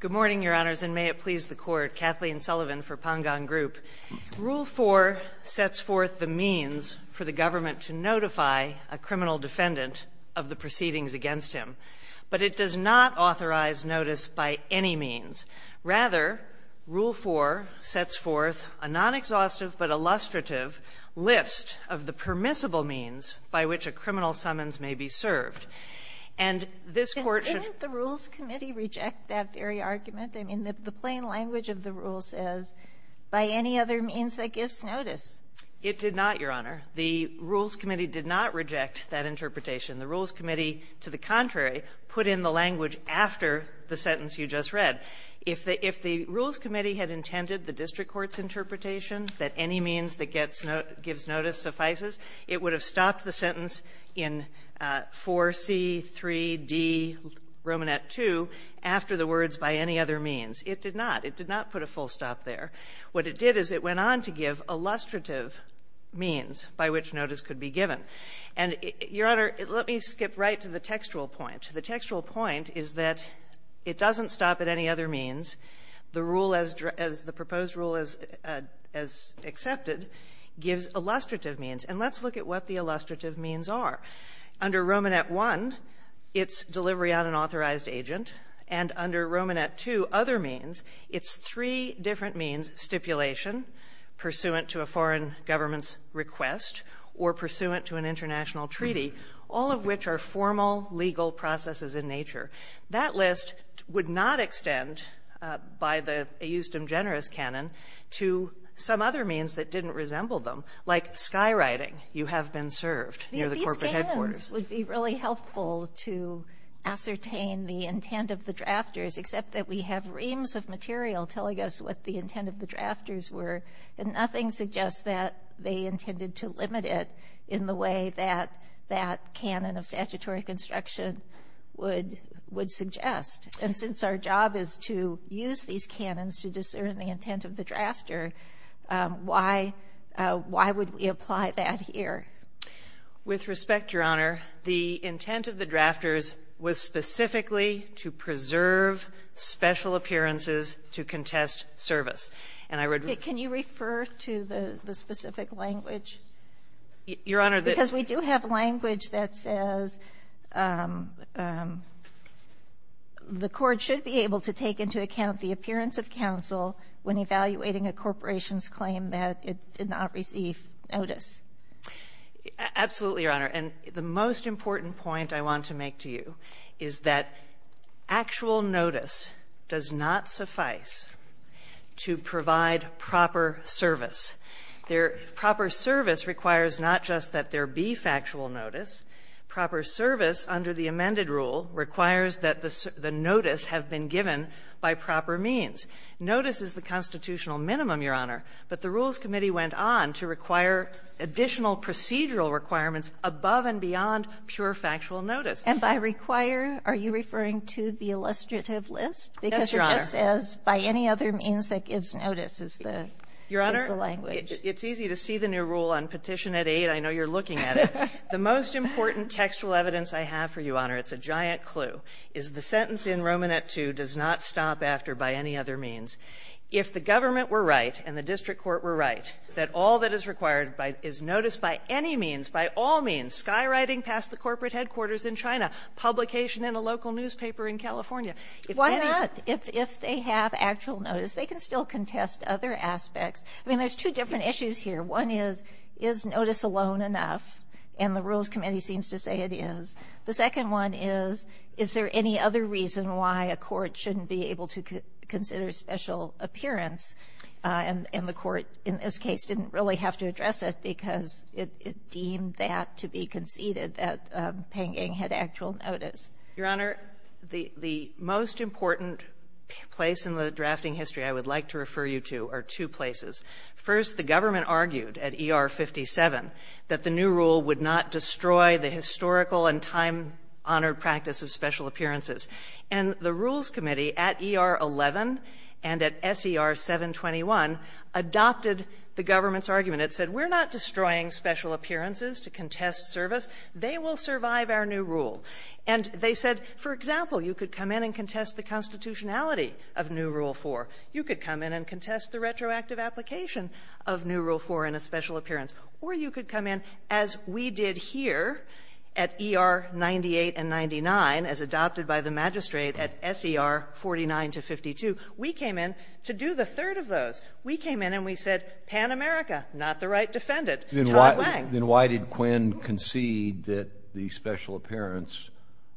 Good morning, Your Honors, and may it please the Court, Kathleen Sullivan for Pangong Group. Rule 4 sets forth the means for the government to notify a criminal defendant of the proceedings against him, but it does not authorize notice by any means. Rather, Rule 4 sets forth a non-exhaustive but illustrative list of the permissible means by which a criminal summons may be served. And this Court should — Sotomayor, didn't the Rules Committee reject that very argument? I mean, the plain language of the rule says, by any other means that gives notice. It did not, Your Honor. The Rules Committee did not reject that interpretation. The Rules Committee, to the contrary, put in the language after the sentence you just read. If the Rules Committee had intended the district court's interpretation that any means that gives notice suffices, it would have stopped the sentence in 4C3D Romanet 2 after the words, by any other means. It did not. It did not put a full stop there. What it did is it went on to give illustrative means by which notice could be given. And, Your Honor, let me skip right to the textual point. The textual point is that it doesn't stop at any other means. The rule as — the proposed rule as accepted gives illustrative means. And let's look at what the illustrative means are. Under Romanet 1, it's delivery on an authorized agent. And under Romanet 2, other means, it's three different means, stipulation pursuant to a foreign government's request or pursuant to an international treaty, all of which are formal legal processes in nature. That list would not extend by the eustem generis canon to some other means that didn't These canons would be really helpful to ascertain the intent of the drafters, except that we have reams of material telling us what the intent of the drafters were, and nothing suggests that they intended to limit it in the way that that canon of statutory construction would suggest. And since our job is to use these canons to discern the intent of the drafter, why would we apply that here? With respect, Your Honor, the intent of the drafters was specifically to preserve special appearances to contest service. And I would — Can you refer to the specific language? Your Honor, the — Because we do have language that says the Court should be able to take into account the appearance of counsel when evaluating a corporation's claim that it did not receive notice. Absolutely, Your Honor. And the most important point I want to make to you is that actual notice does not suffice to provide proper service. There — proper service requires not just that there be factual notice. Proper service under the amended rule requires that the notice have been given by proper means. Notice is the constitutional minimum, Your Honor, but the Rules Committee went on to require additional procedural requirements above and beyond pure factual notice. And by require, are you referring to the illustrative list? Yes, Your Honor. Because it just says, by any other means that gives notice is the — is the language. Your Honor, it's easy to see the new rule on Petition 8. I know you're looking at it. The most important textual evidence I have for you, Your Honor, it's a giant clue, is the sentence in Romanet 2 does not stop after by any other means. If the government were right and the district court were right, that all that is required is notice by any means, by all means, skywriting past the corporate headquarters in China, publication in a local newspaper in California. Why not? If they have actual notice, they can still contest other aspects. I mean, there's two different issues here. One is, is notice alone enough? And the Rules Committee seems to say it is. The second one is, is there any other reason why a court shouldn't be able to consider special appearance, and the court in this case didn't really have to address it because it deemed that to be conceded, that Penggang had actual notice. Your Honor, the most important place in the drafting history I would like to refer you to are two places. First, the government argued at ER 57 that the new rule would not destroy the historical and time-honored practice of special appearances. And the Rules Committee at ER 11 and at SER 721 adopted the government's argument. It said, we're not destroying special appearances to contest service. They will survive our new rule. And they said, for example, you could come in and contest the constitutionality of new Rule 4. You could come in and contest the retroactive application of new Rule 4 in a special appearance. Or you could come in, as we did here at ER 98 and 99, as adopted by the magistrate at SER 49 to 52, we came in to do the third of those. We came in and we said, Pan America, not the right defendant. Then why did Quinn concede that the special appearance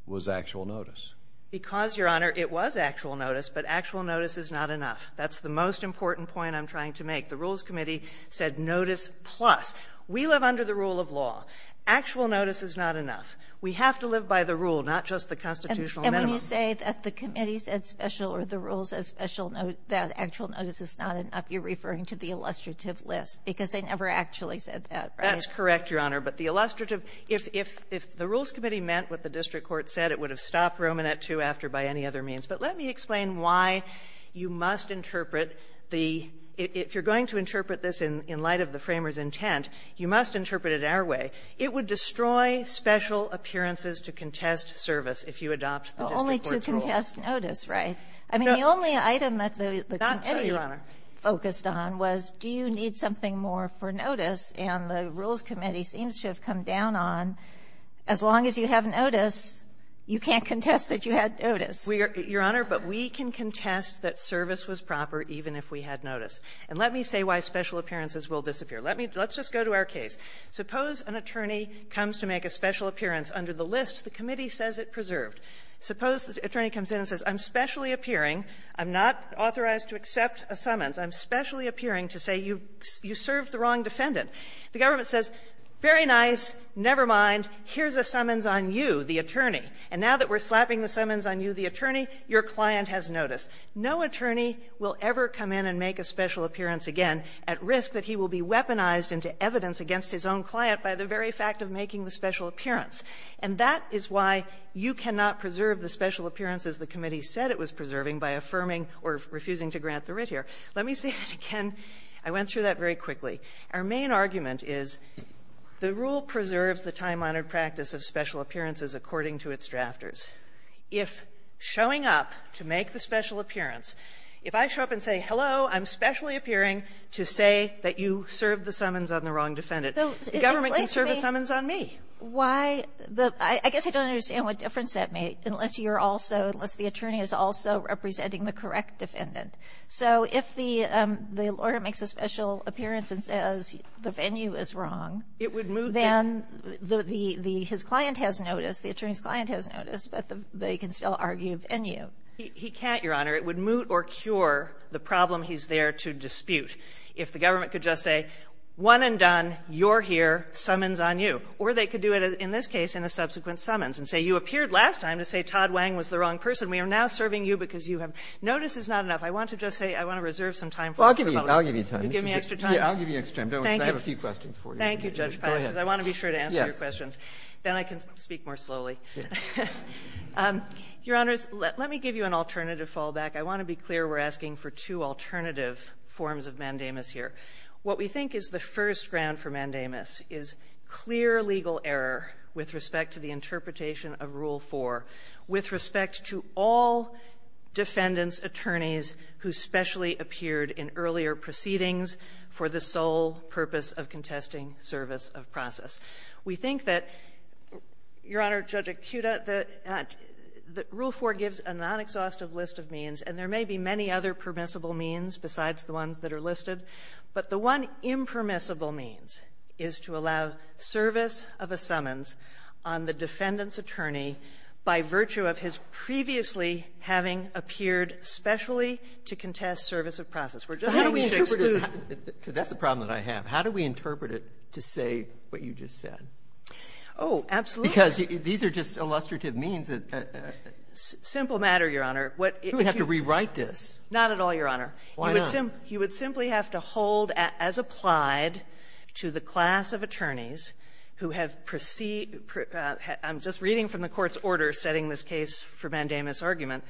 was actual notice? Because, Your Honor, it was actual notice, but actual notice is not enough. That's the most important point I'm trying to make. The Rules Committee said notice plus. We live under the rule of law. Actual notice is not enough. We have to live by the rule, not just the constitutional minimum. And when you say that the committee said special or the rules said special, that actual notice is not enough, you're referring to the illustrative list, because they never actually said that, right? That's correct, Your Honor. But the illustrative, if the Rules Committee meant what the district court said, it would have stopped Romanet II after by any other means. But let me explain why you must interpret the – if you're going to interpret this in light of the framers' intent, you must interpret it our way. It would destroy special appearances to contest service if you adopt the district court's rule. The only to contest notice, right? I mean, the only item that the committee focused on was, do you need something more for notice? And the Rules Committee seems to have come down on, as long as you have notice, you can't contest that you had notice. Your Honor, but we can contest that service was proper even if we had notice. And let me say why special appearances will disappear. Let me – let's just go to our case. Suppose an attorney comes to make a special appearance under the list. The committee says it preserved. Suppose the attorney comes in and says, I'm specially appearing. I'm not authorized to accept a summons. I'm specially appearing to say you've – you served the wrong defendant. The government says, very nice, never mind, here's a summons on you. The attorney. And now that we're slapping the summons on you, the attorney, your client has notice. No attorney will ever come in and make a special appearance again at risk that he will be weaponized into evidence against his own client by the very fact of making the special appearance. And that is why you cannot preserve the special appearances the committee said it was preserving by affirming or refusing to grant the writ here. Let me say that again. I went through that very quickly. Our main argument is the rule preserves the time-honored practice of special appearances according to its drafters. If showing up to make the special appearance, if I show up and say, hello, I'm specially appearing to say that you served the summons on the wrong defendant, the government can serve a summons on me. Why the – I guess I don't understand what difference that made, unless you're also – unless the attorney is also representing the correct defendant. So if the lawyer makes a special appearance and says the venue is wrong, then the client has notice, the attorney's client has notice, but they can still argue venue. He can't, Your Honor. It would moot or cure the problem he's there to dispute. If the government could just say, one and done, you're here, summons on you. Or they could do it, in this case, in a subsequent summons and say, you appeared last time to say Todd Wang was the wrong person. We are now serving you because you have – notice is not enough. I want to just say I want to reserve some time for the public. I'll give you time. You give me extra time. I'll give you extra time. I have a few questions for you. Thank you, Judge Paz, because I want to be sure to answer your questions. Then I can speak more slowly. Your Honors, let me give you an alternative fallback. I want to be clear. We're asking for two alternative forms of mandamus here. What we think is the first ground for mandamus is clear legal error with respect to the interpretation of Rule 4, with respect to all defendants, attorneys who specially appeared in earlier proceedings for the sole purpose of contesting service of process. We think that, Your Honor, Judge Acuda, that Rule 4 gives a non-exhaustive list of means, and there may be many other permissible means besides the ones that are listed, but the one impermissible means is to allow service of a summons on the defendant's attorney by virtue of his previously having appeared specially to contest service of process. We're just saying we should exclude the other. Oh, absolutely. Because these are just illustrative means that the ---- Simple matter, Your Honor. What ---- You would have to rewrite this. Not at all, Your Honor. Why not? You would simply have to hold as applied to the class of attorneys who have preceded ---- I'm just reading from the Court's order setting this case for mandamus argument.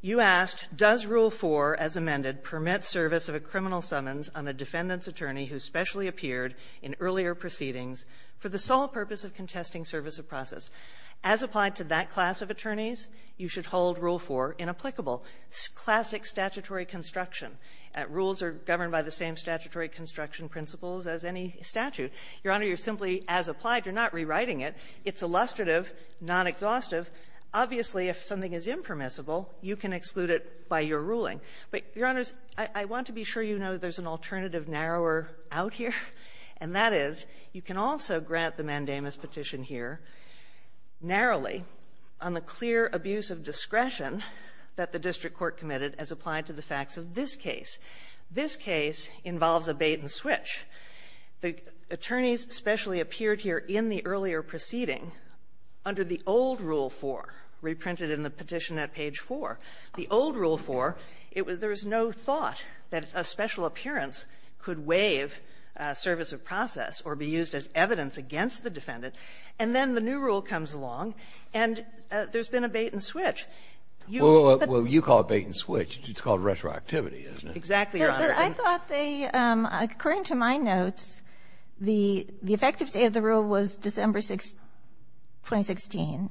You asked, does Rule 4, as amended, permit service of a criminal summons on a defendant's attorney who has previously appeared in earlier proceedings for the sole purpose of contesting service of process? As applied to that class of attorneys, you should hold Rule 4 inapplicable. Classic statutory construction. Rules are governed by the same statutory construction principles as any statute. Your Honor, you're simply, as applied, you're not rewriting it. It's illustrative, non-exhaustive. Obviously, if something is impermissible, you can exclude it by your ruling. But, Your Honors, I want to be sure you know there's an alternative narrower out here, and that is you can also grant the mandamus petition here narrowly on the clear abuse of discretion that the district court committed as applied to the facts of this case. This case involves a bait-and-switch. The attorneys especially appeared here in the earlier proceeding under the old Rule 4, reprinted in the petition at page 4. The old Rule 4, it was there was no thought that a special appearance could waive service of process or be used as evidence against the defendant. And then the new rule comes along, and there's been a bait-and-switch. You can't do that. Well, you call it bait-and-switch. It's called retroactivity, isn't it? Exactly, Your Honor. I thought they, according to my notes, the effective date of the rule was December 2016.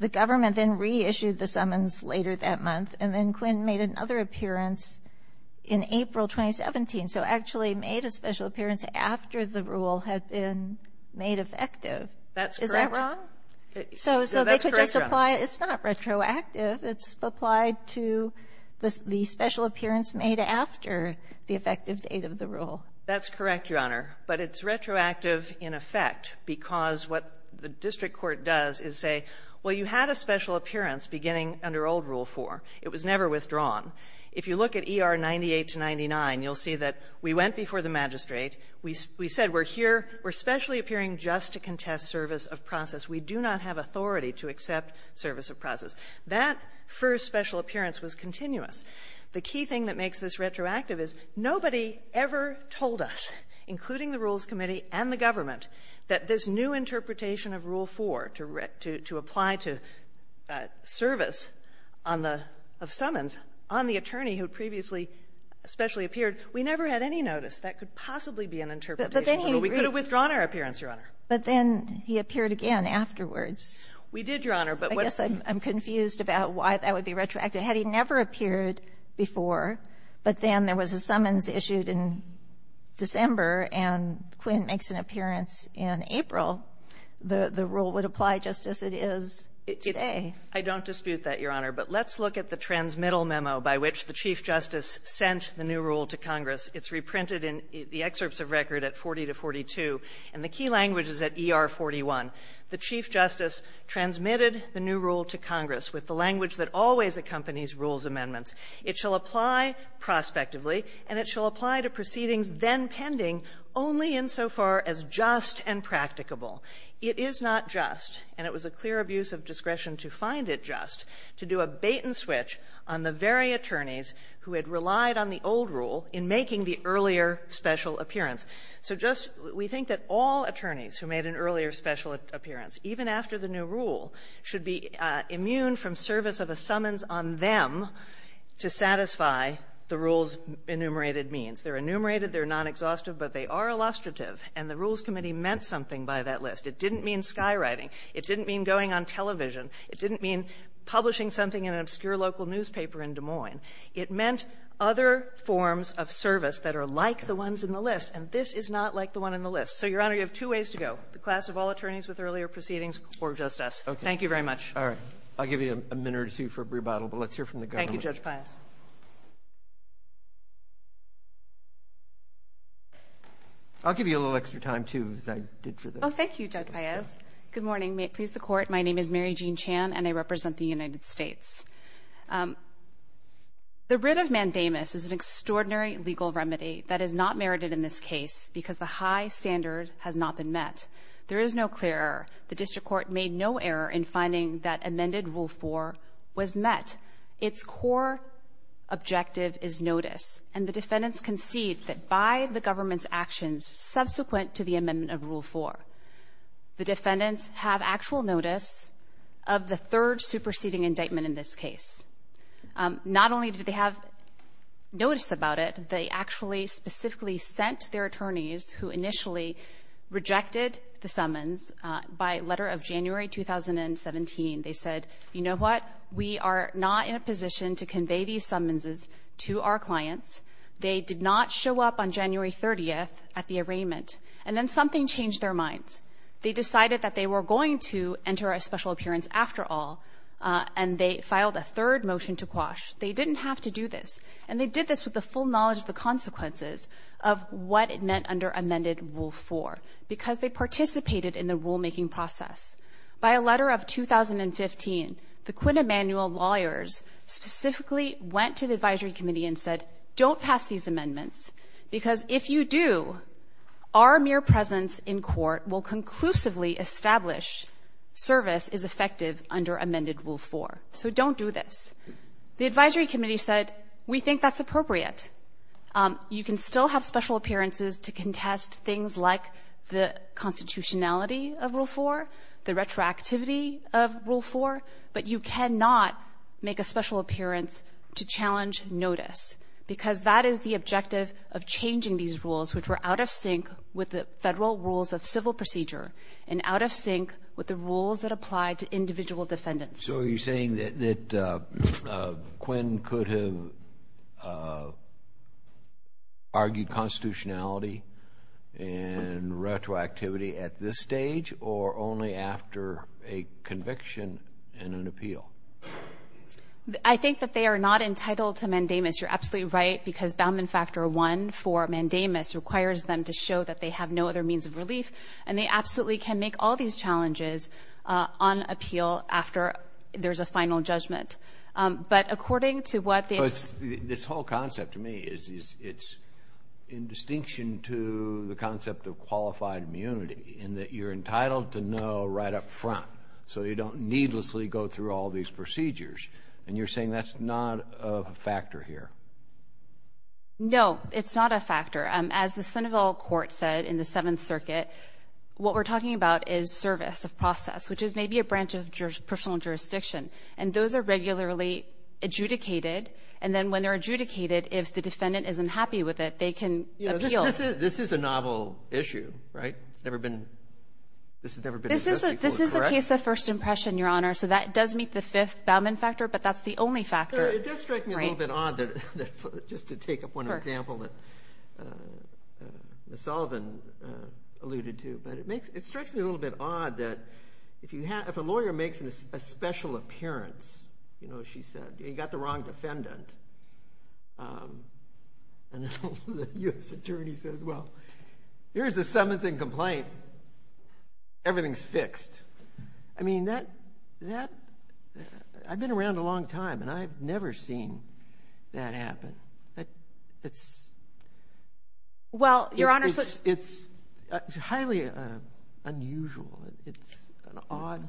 The government then reissued the summons later that month, and then Quinn made another appearance in April 2017, so actually made a special appearance after the rule had been made effective. That's correct. Is that wrong? So they could just apply it's not retroactive. It's applied to the special appearance made after the effective date of the rule. That's correct, Your Honor. But it's retroactive in effect because what the district court does is say, well, you had a special appearance beginning under old Rule 4. It was never withdrawn. If you look at ER 98 to 99, you'll see that we went before the magistrate. We said we're here, we're specially appearing just to contest service of process. We do not have authority to accept service of process. That first special appearance was continuous. The key thing that makes this retroactive is nobody ever told us, including the Rules Committee and the government, that this new interpretation of Rule 4 to apply to service on the — of summons on the attorney who previously specially appeared, we never had any notice that could possibly be an interpretation. We could have withdrawn our appearance, Your Honor. But then he appeared again afterwards. We did, Your Honor. I guess I'm confused about why that would be retroactive. Had he never appeared before, but then there was a summons issued in December and Quinn makes an appearance in April, the — the rule would apply just as it is today. I don't dispute that, Your Honor. But let's look at the transmittal memo by which the Chief Justice sent the new rule to Congress. It's reprinted in the excerpts of record at 40 to 42. And the key language is at ER 41. The Chief Justice transmitted the new rule to Congress with the language that always accompanies rules amendments. It shall apply prospectively, and it shall apply to proceedings then pending only insofar as just and practicable. It is not just, and it was a clear abuse of discretion to find it just, to do a bait-and-switch on the very attorneys who had relied on the old rule in making the earlier special appearance. So just — we think that all attorneys who made an earlier special appearance, even after the new rule, should be immune from service of a summons on them to satisfy the rule's enumerated means. They're enumerated, they're non-exhaustive, but they are illustrative. And the Rules Committee meant something by that list. It didn't mean skywriting. It didn't mean going on television. It didn't mean publishing something in an obscure local newspaper in Des Moines. It meant other forms of service that are like the ones in the list, and this is not like the one in the list. So, Your Honor, you have two ways to go, the class of all attorneys with earlier proceedings or just us. Thank you very much. Roberts. All right. I'll give you a minute or two for a rebuttal, but let's hear from the government. Thank you, Judge Payes. I'll give you a little extra time, too, as I did for this. Oh, thank you, Judge Payes. Good morning. May it please the Court. My name is Mary Jean Chan, and I represent the United States. The writ of mandamus is an extraordinary legal remedy that is not merited in this case because the high standard has not been met. There is no clear error. The district court made no error in finding that amended Rule 4 was met. Its core objective is notice, and the defendants concede that by the government's actions subsequent to the amendment of Rule 4, the defendants have actual notice of the third superseding indictment in this case. Not only did they have notice about it, they actually specifically sent their attorneys, who initially rejected the summons, by letter of January 2017. They said, you know what? We are not in a position to convey these summonses to our clients. They did not show up on January 30th at the arraignment. And then something changed their minds. They decided that they were going to enter a special appearance after all, and they filed a third motion to quash. They didn't have to do this, and they did this with the full knowledge of the fact that it met under amended Rule 4, because they participated in the rulemaking process. By a letter of 2015, the Quinn Emanuel lawyers specifically went to the advisory committee and said, don't pass these amendments, because if you do, our mere presence in court will conclusively establish service is effective under amended Rule 4. So don't do this. The advisory committee said, we think that's appropriate. You can still have special appearances to contest things like the constitutionality of Rule 4, the retroactivity of Rule 4, but you cannot make a special appearance to challenge notice, because that is the objective of changing these rules, which were out of sync with the federal rules of civil procedure, and out of sync with the rules that apply to individual defendants. So you're saying that Quinn could have argued constitutionality and retroactivity at this stage, or only after a conviction and an appeal? I think that they are not entitled to mandamus. You're absolutely right, because Boundman Factor 1 for mandamus requires them to show that they have no other means of relief, and they absolutely can make all these challenges on appeal after there's a final judgment. But according to what they have to say to the court, they are entitled to no right up front, so you don't needlessly go through all these procedures. And you're saying that's not a factor here? No, it's not a factor. As the Seneville court said in the Seventh Circuit, what we're talking about is service of process, which is maybe a branch of personal jurisdiction. And those are regularly adjudicated. And then when they're adjudicated, if the defendant isn't happy with it, they can appeal. This is a novel issue, right? It's never been addressed before, correct? This is a case of first impression, Your Honor. So that does meet the fifth Boundman Factor, but that's the only factor. It does strike me a little bit odd, just to take up one example, that Ms. Sullivan alluded to. But it strikes me a little bit odd that if a lawyer makes a special appearance, she said, you got the wrong defendant, and the U.S. attorney says, well, here's the summons and complaint. Everything's fixed. I mean, I've been around a long time, and I've never seen that happen. It's highly unusual. It's an odd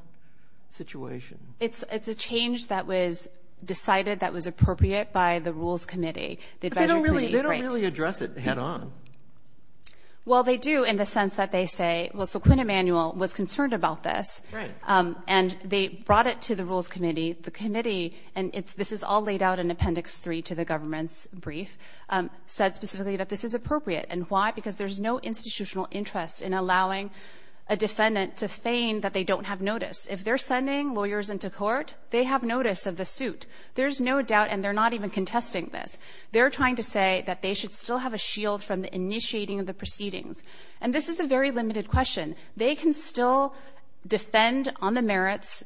situation. It's a change that was decided that was appropriate by the Rules Committee. But they don't really address it head on. Well, they do in the sense that they say, well, so Quinn Emanuel was concerned about this, and they brought it to the Rules Committee. The committee, and this is all laid out in Appendix 3 to the government's brief, said specifically that this is appropriate. And why? Because there's no institutional interest in allowing a defendant to feign that they don't have notice. If they're sending lawyers into court, they have notice of the suit. There's no doubt, and they're not even contesting this. They're trying to say that they should still have a shield from the initiating of the proceedings. And this is a very limited question. They can still defend on the merits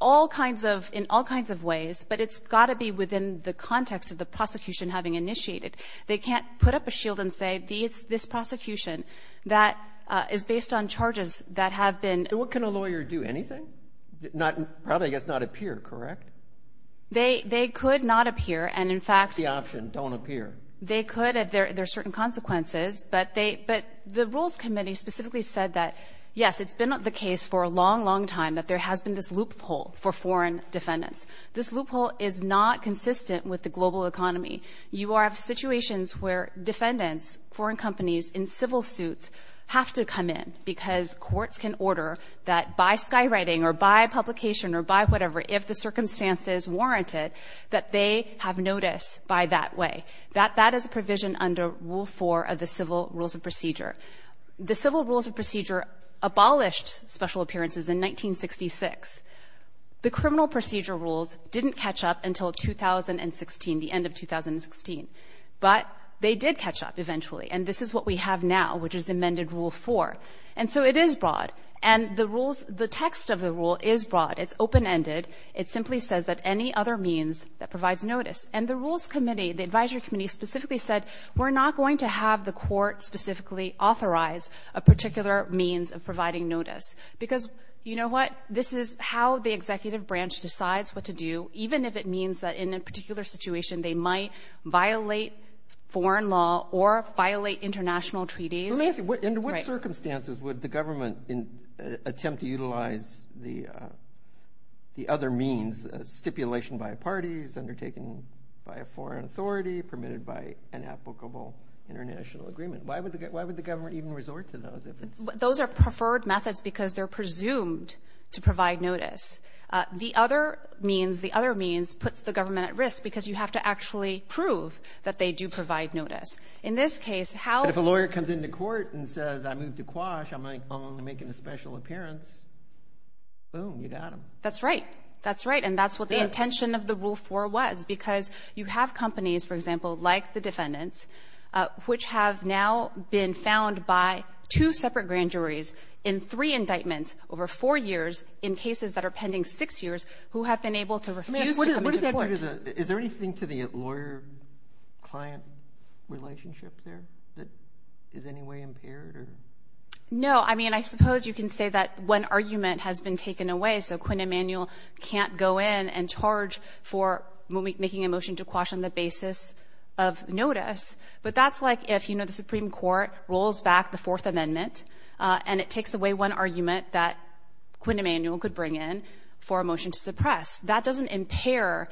in all kinds of ways, but it's got to be within the context of the prosecution having initiated. They can't put up a shield and say, this prosecution that is based on charges that have been- And what can a lawyer do? Anything? Probably, I guess, not appear, correct? They could not appear, and in fact- The option, don't appear. They could if there are certain consequences. But the Rules Committee specifically said that, yes, it's been the case for a long, long time that there has been this loophole for foreign defendants. This loophole is not consistent with the global economy. You have situations where defendants, foreign companies in civil suits, have to come in because courts can order that by skywriting or by publication or by whatever, if the circumstances warrant it, that they have notice by that way. That is a provision under Rule 4 of the Civil Rules of Procedure. The Civil Rules of Procedure abolished special appearances in 1966. The Criminal Procedure Rules didn't catch up until 2016, the end of 2016. But they did catch up eventually. And this is what we have now, which is amended Rule 4. And so it is broad, and the rules, the text of the rule is broad. It's open-ended. It simply says that any other means that provides notice. And the Rules Committee, the Advisory Committee, specifically said, we're not going to have the court specifically authorize a particular means of providing notice. Because, you know what, this is how the executive branch decides what to do, even if it means that in a particular situation, they might violate foreign law or violate international treaties. Let me ask you, under what circumstances would the government attempt to utilize the other means, stipulation by parties, undertaken by a foreign authority, permitted by an applicable international agreement? Why would the government even resort to those if it's... Those are preferred methods because they're presumed to provide notice. The other means puts the government at risk because you have to actually prove that they do provide notice. In this case, how... But if a lawyer comes into court and says, I moved to Quash, I'm only making a special appearance, boom, you got him. That's right. That's right. And that's what the intention of the Rule 4 was because you have companies, for example, like the defendants, which have now been found by two separate grand juries in three indictments over four years in cases that are pending six years, who have been able to refuse to come into court. Is there anything to the lawyer-client relationship there that is in any way impaired or...? No. I mean, I suppose you can say that one argument has been taken away, so Quinn Emanuel can't go in and charge for making a motion to Quash on the basis of notice. But that's like if, you know, the Supreme Court rolls back the Fourth Amendment and it takes away one argument that Quinn Emanuel could bring in for a motion to suppress. That doesn't impair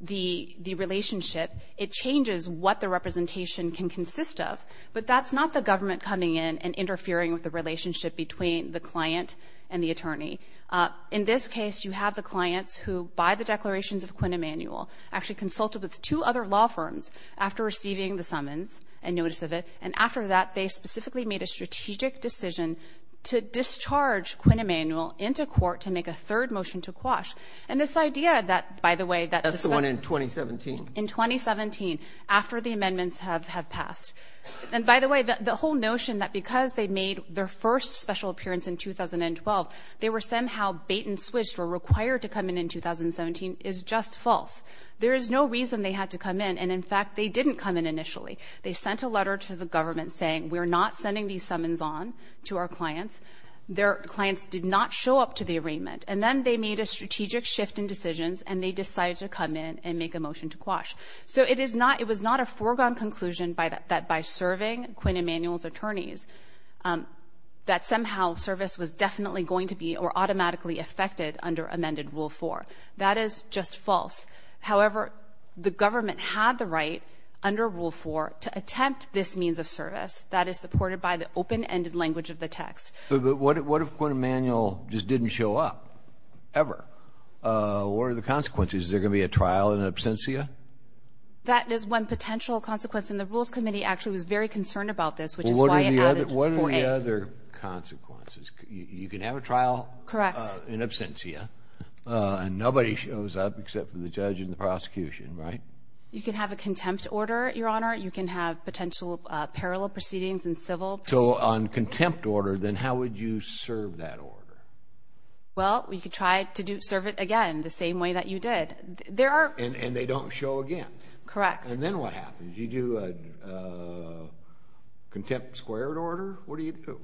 the relationship. It changes what the representation can consist of. But that's not the government coming in and interfering with the relationship between the client and the attorney. In this case, you have the clients who, by the declarations of Quinn Emanuel, actually consulted with two other law firms after receiving the summons and notice of it. And after that, they specifically made a strategic decision to discharge Quinn Emanuel into court to make a third motion to Quash. And this idea that, by the way... That's the one in 2017. In 2017, after the amendments have passed. And, by the way, the whole notion that because they made their first special appearance in 2012, they were somehow bait-and-switched or required to come in in 2017 is just false. There is no reason they had to come in, and, in fact, they didn't come in initially. They sent a letter to the government saying, we're not sending these summons on to our clients. Their clients did not show up to the arraignment. And then they made a strategic shift in decisions and they decided to come in and make a motion to Quash. So it was not a foregone conclusion that by serving Quinn Emanuel's attorneys, that somehow service was definitely going to be or automatically affected under amended Rule 4. That is just false. However, the government had the right, under Rule 4, to attempt this means of service that is supported by the open-ended language of the text. But what if Quinn Emanuel just didn't show up? Ever? What are the consequences? Is there going to be a trial in absentia? That is one potential consequence, and the Rules Committee actually was very concerned about this, which is why it added 4A. What are the other consequences? You can have a trial in absentia, and nobody shows up except for the judge and the prosecution, right? You can have a contempt order, Your Honor. You can have potential parallel proceedings in civil. So on contempt order, then how would you serve that order? Well, you could try to serve it again the same way that you did. There are... And they don't show again. Correct. And then what happens? You do a contempt squared order? What do you do?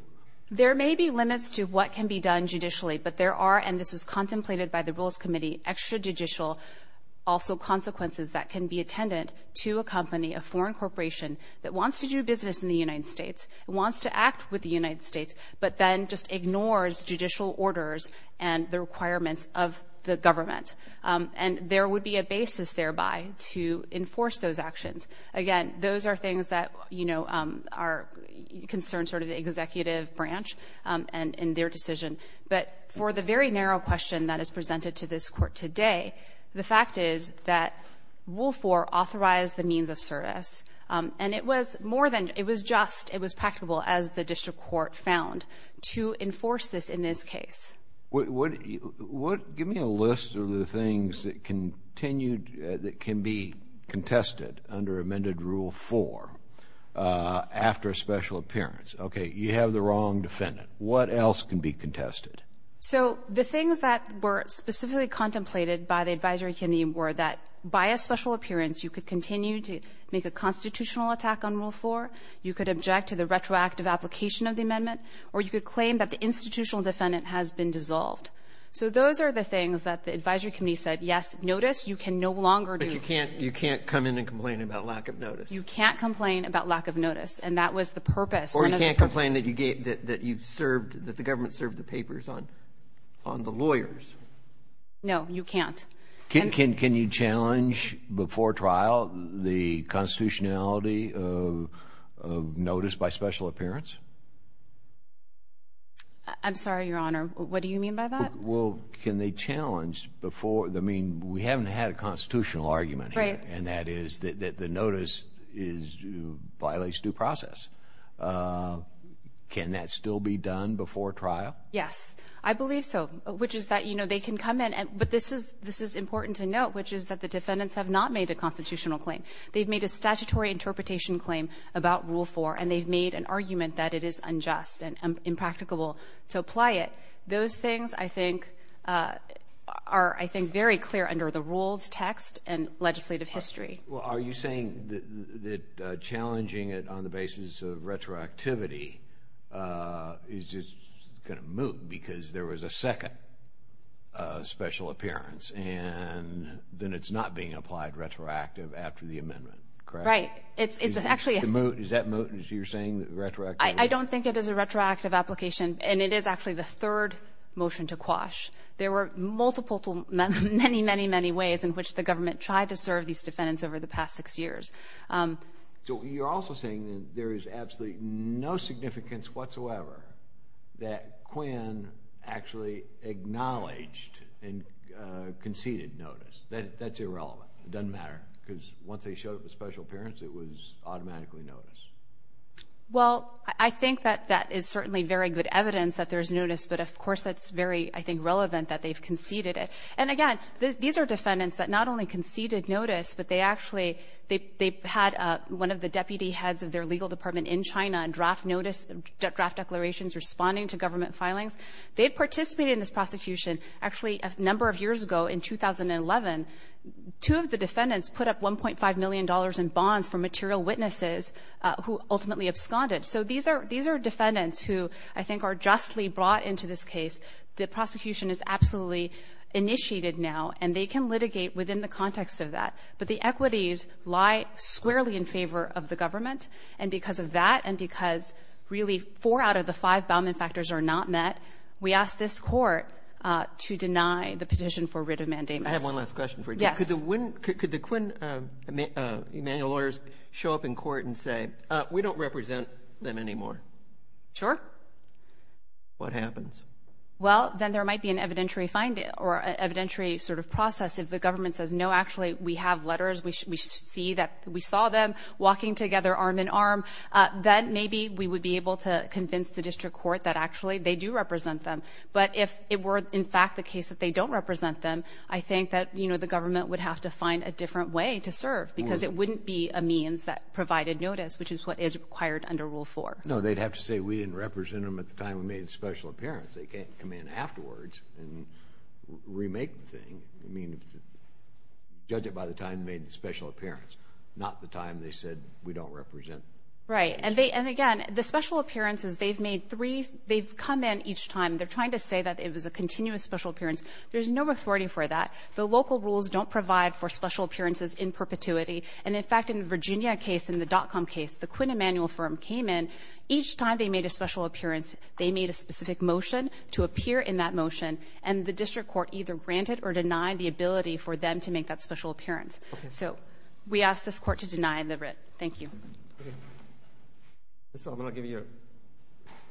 There may be limits to what can be done judicially, but there are, and this was contemplated by the Rules Committee, extrajudicial, also consequences that can be attendant to a company, a foreign corporation, that wants to do business in the United States, wants to act with the United States, but then just ignores judicial orders and the requirements of the government. And there would be a basis thereby to enforce those actions. Again, those are things that are concerned sort of the executive branch and their decision. But for the very narrow question that is presented to this Court today, the fact is that Rule 4 authorized the means of service. And it was more than, it was just, it was practicable, as the District Court found, to enforce this in this case. Give me a list of the things that can be contested under amended Rule 4 after a special appearance. Okay, you have the wrong defendant. What else can be contested? So the things that were specifically contemplated by the Advisory Committee were that by a special appearance, you could continue to make a constitutional attack on Rule 4, you could object to the retroactive application of the amendment, or you could claim that the institutional defendant has been dissolved. So those are the things that the Advisory Committee said, yes, notice, you can no longer do. But you can't come in and complain about lack of notice. You can't complain about lack of notice. And that was the purpose. Or you can't complain that you've served, that the government served the papers on the lawyers. No, you can't. Can you challenge before trial the constitutionality of notice by special appearance? I'm sorry, Your Honor, what do you mean by that? Well, can they challenge before, I mean, we haven't had a constitutional argument here, and that is that the notice violates due process. Can that still be done before trial? Yes, I believe so, which is that they can come in, but this is important to note, which is that the defendants have not made a constitutional claim. They've made a statutory interpretation claim about Rule 4, and they've made an argument that it is unjust and impracticable to apply it. Those things, I think, are, I think, very clear under the rules, text, and legislative history. Well, are you saying that challenging it on the basis of retroactivity is just gonna move because there was a second special appearance, and then it's not being applied retroactive after the amendment, correct? Right, it's actually a... Is that moot? You're saying that retroactive... I don't think it is a retroactive application, and it is actually the third motion to quash. There were multiple, many, many, many ways in which the government tried to serve these defendants over the past six years. So you're also saying that there is absolutely no significance whatsoever that Quinn actually acknowledged and conceded notice. That's irrelevant, it doesn't matter, because once they showed up with special appearance, it was automatically notice. Well, I think that that is certainly very good evidence that there's notice, but of course, it's very, I think, relevant that they've conceded it. And again, these are defendants that not only conceded notice, but they actually, they had one of the deputy heads of their legal department in China draft notice, draft declarations responding to government filings. They've participated in this prosecution, actually a number of years ago in 2011, two of the defendants put up $1.5 million in bonds for material witnesses who ultimately absconded. So these are defendants who I think are justly brought into this case. The prosecution is absolutely initiated now, and they can litigate within the context of that. But the equities lie squarely in favor of the government, and because of that, and because really four out of the five Bauman factors are not met, we asked this court to deny the petition for writ of mandamus. I have one last question for you. Yes. Could the Quinn Emanuel lawyers show up in court and say, we don't represent them anymore? Sure. What happens? Well, then there might be an evidentiary finding or evidentiary sort of process. If the government says, no, actually we have letters, we see that we saw them walking together arm in arm, then maybe we would be able to convince the district court that actually they do represent them. But if it were in fact the case that they don't represent them, I think that the government would have to find a different way to serve, because it wouldn't be a means that provided notice, which is what is required under Rule 4. No, they'd have to say, we didn't represent them at the time we made the special appearance. They can't come in afterwards and remake the thing. I mean, judge it by the time they made the special appearance not the time they said, we don't represent. Right, and again, the special appearance is they've made three, they've come in each time. They're trying to say that it was a continuous special appearance. There's no authority for that. The local rules don't provide for special appearances in perpetuity. And in fact, in the Virginia case, in the dot-com case, the Quinn Emanuel firm came in. Each time they made a special appearance, they made a specific motion to appear in that motion. And the district court either granted or denied the ability for them to make that special appearance. So we ask this court to deny the writ. Thank you. Okay, Ms. Sullivan, I'll give you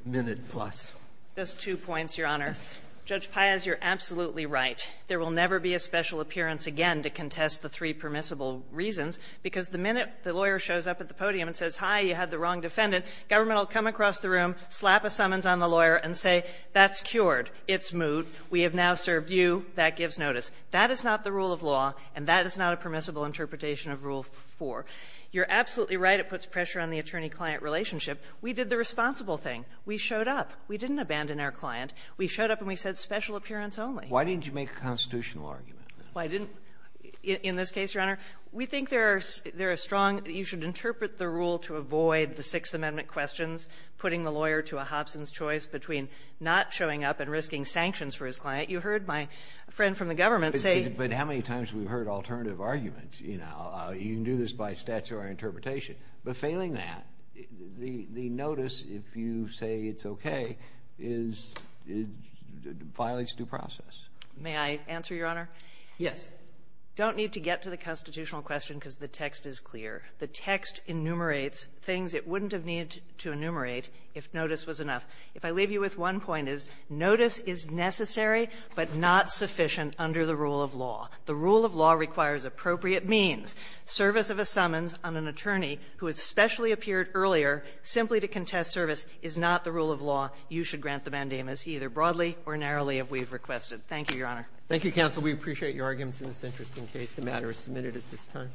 a minute plus. Just two points, Your Honor. Judge Paez, you're absolutely right. There will never be a special appearance again to contest the three permissible reasons because the minute the lawyer shows up at the podium and says, hi, you had the wrong defendant, government will come across the room, slap a summons on the lawyer and say, that's cured. It's moved. We have now served you. That gives notice. That is not the rule of law and that is not a permissible interpretation of rule four. You're absolutely right. It puts pressure on the attorney-client relationship. We did the responsible thing. We showed up. We didn't abandon our client. We showed up and we said special appearance only. Why didn't you make a constitutional argument? Why didn't, in this case, Your Honor, we think there are strong, you should interpret the rule to avoid the Sixth Amendment questions, putting the lawyer to a Hobson's choice between not showing up and risking sanctions for his client. You heard my friend from the government say. But how many times have we heard alternative arguments? You can do this by statutory interpretation. But failing that, the notice, if you say it's okay, is, it violates due process. May I answer, Your Honor? Yes. Don't need to get to the constitutional question because the text is clear. The text enumerates things it wouldn't have needed to enumerate if notice was enough. If I leave you with one point, is notice is necessary but not sufficient under the rule of law. The rule of law requires appropriate means. Service of a summons on an attorney who has specially appeared earlier simply to contest service is not the rule of law. You should grant the mandamus either broadly or narrowly if we've requested. Thank you, Your Honor. Thank you, counsel. We appreciate your arguments in this interesting case. The matter is submitted at this time.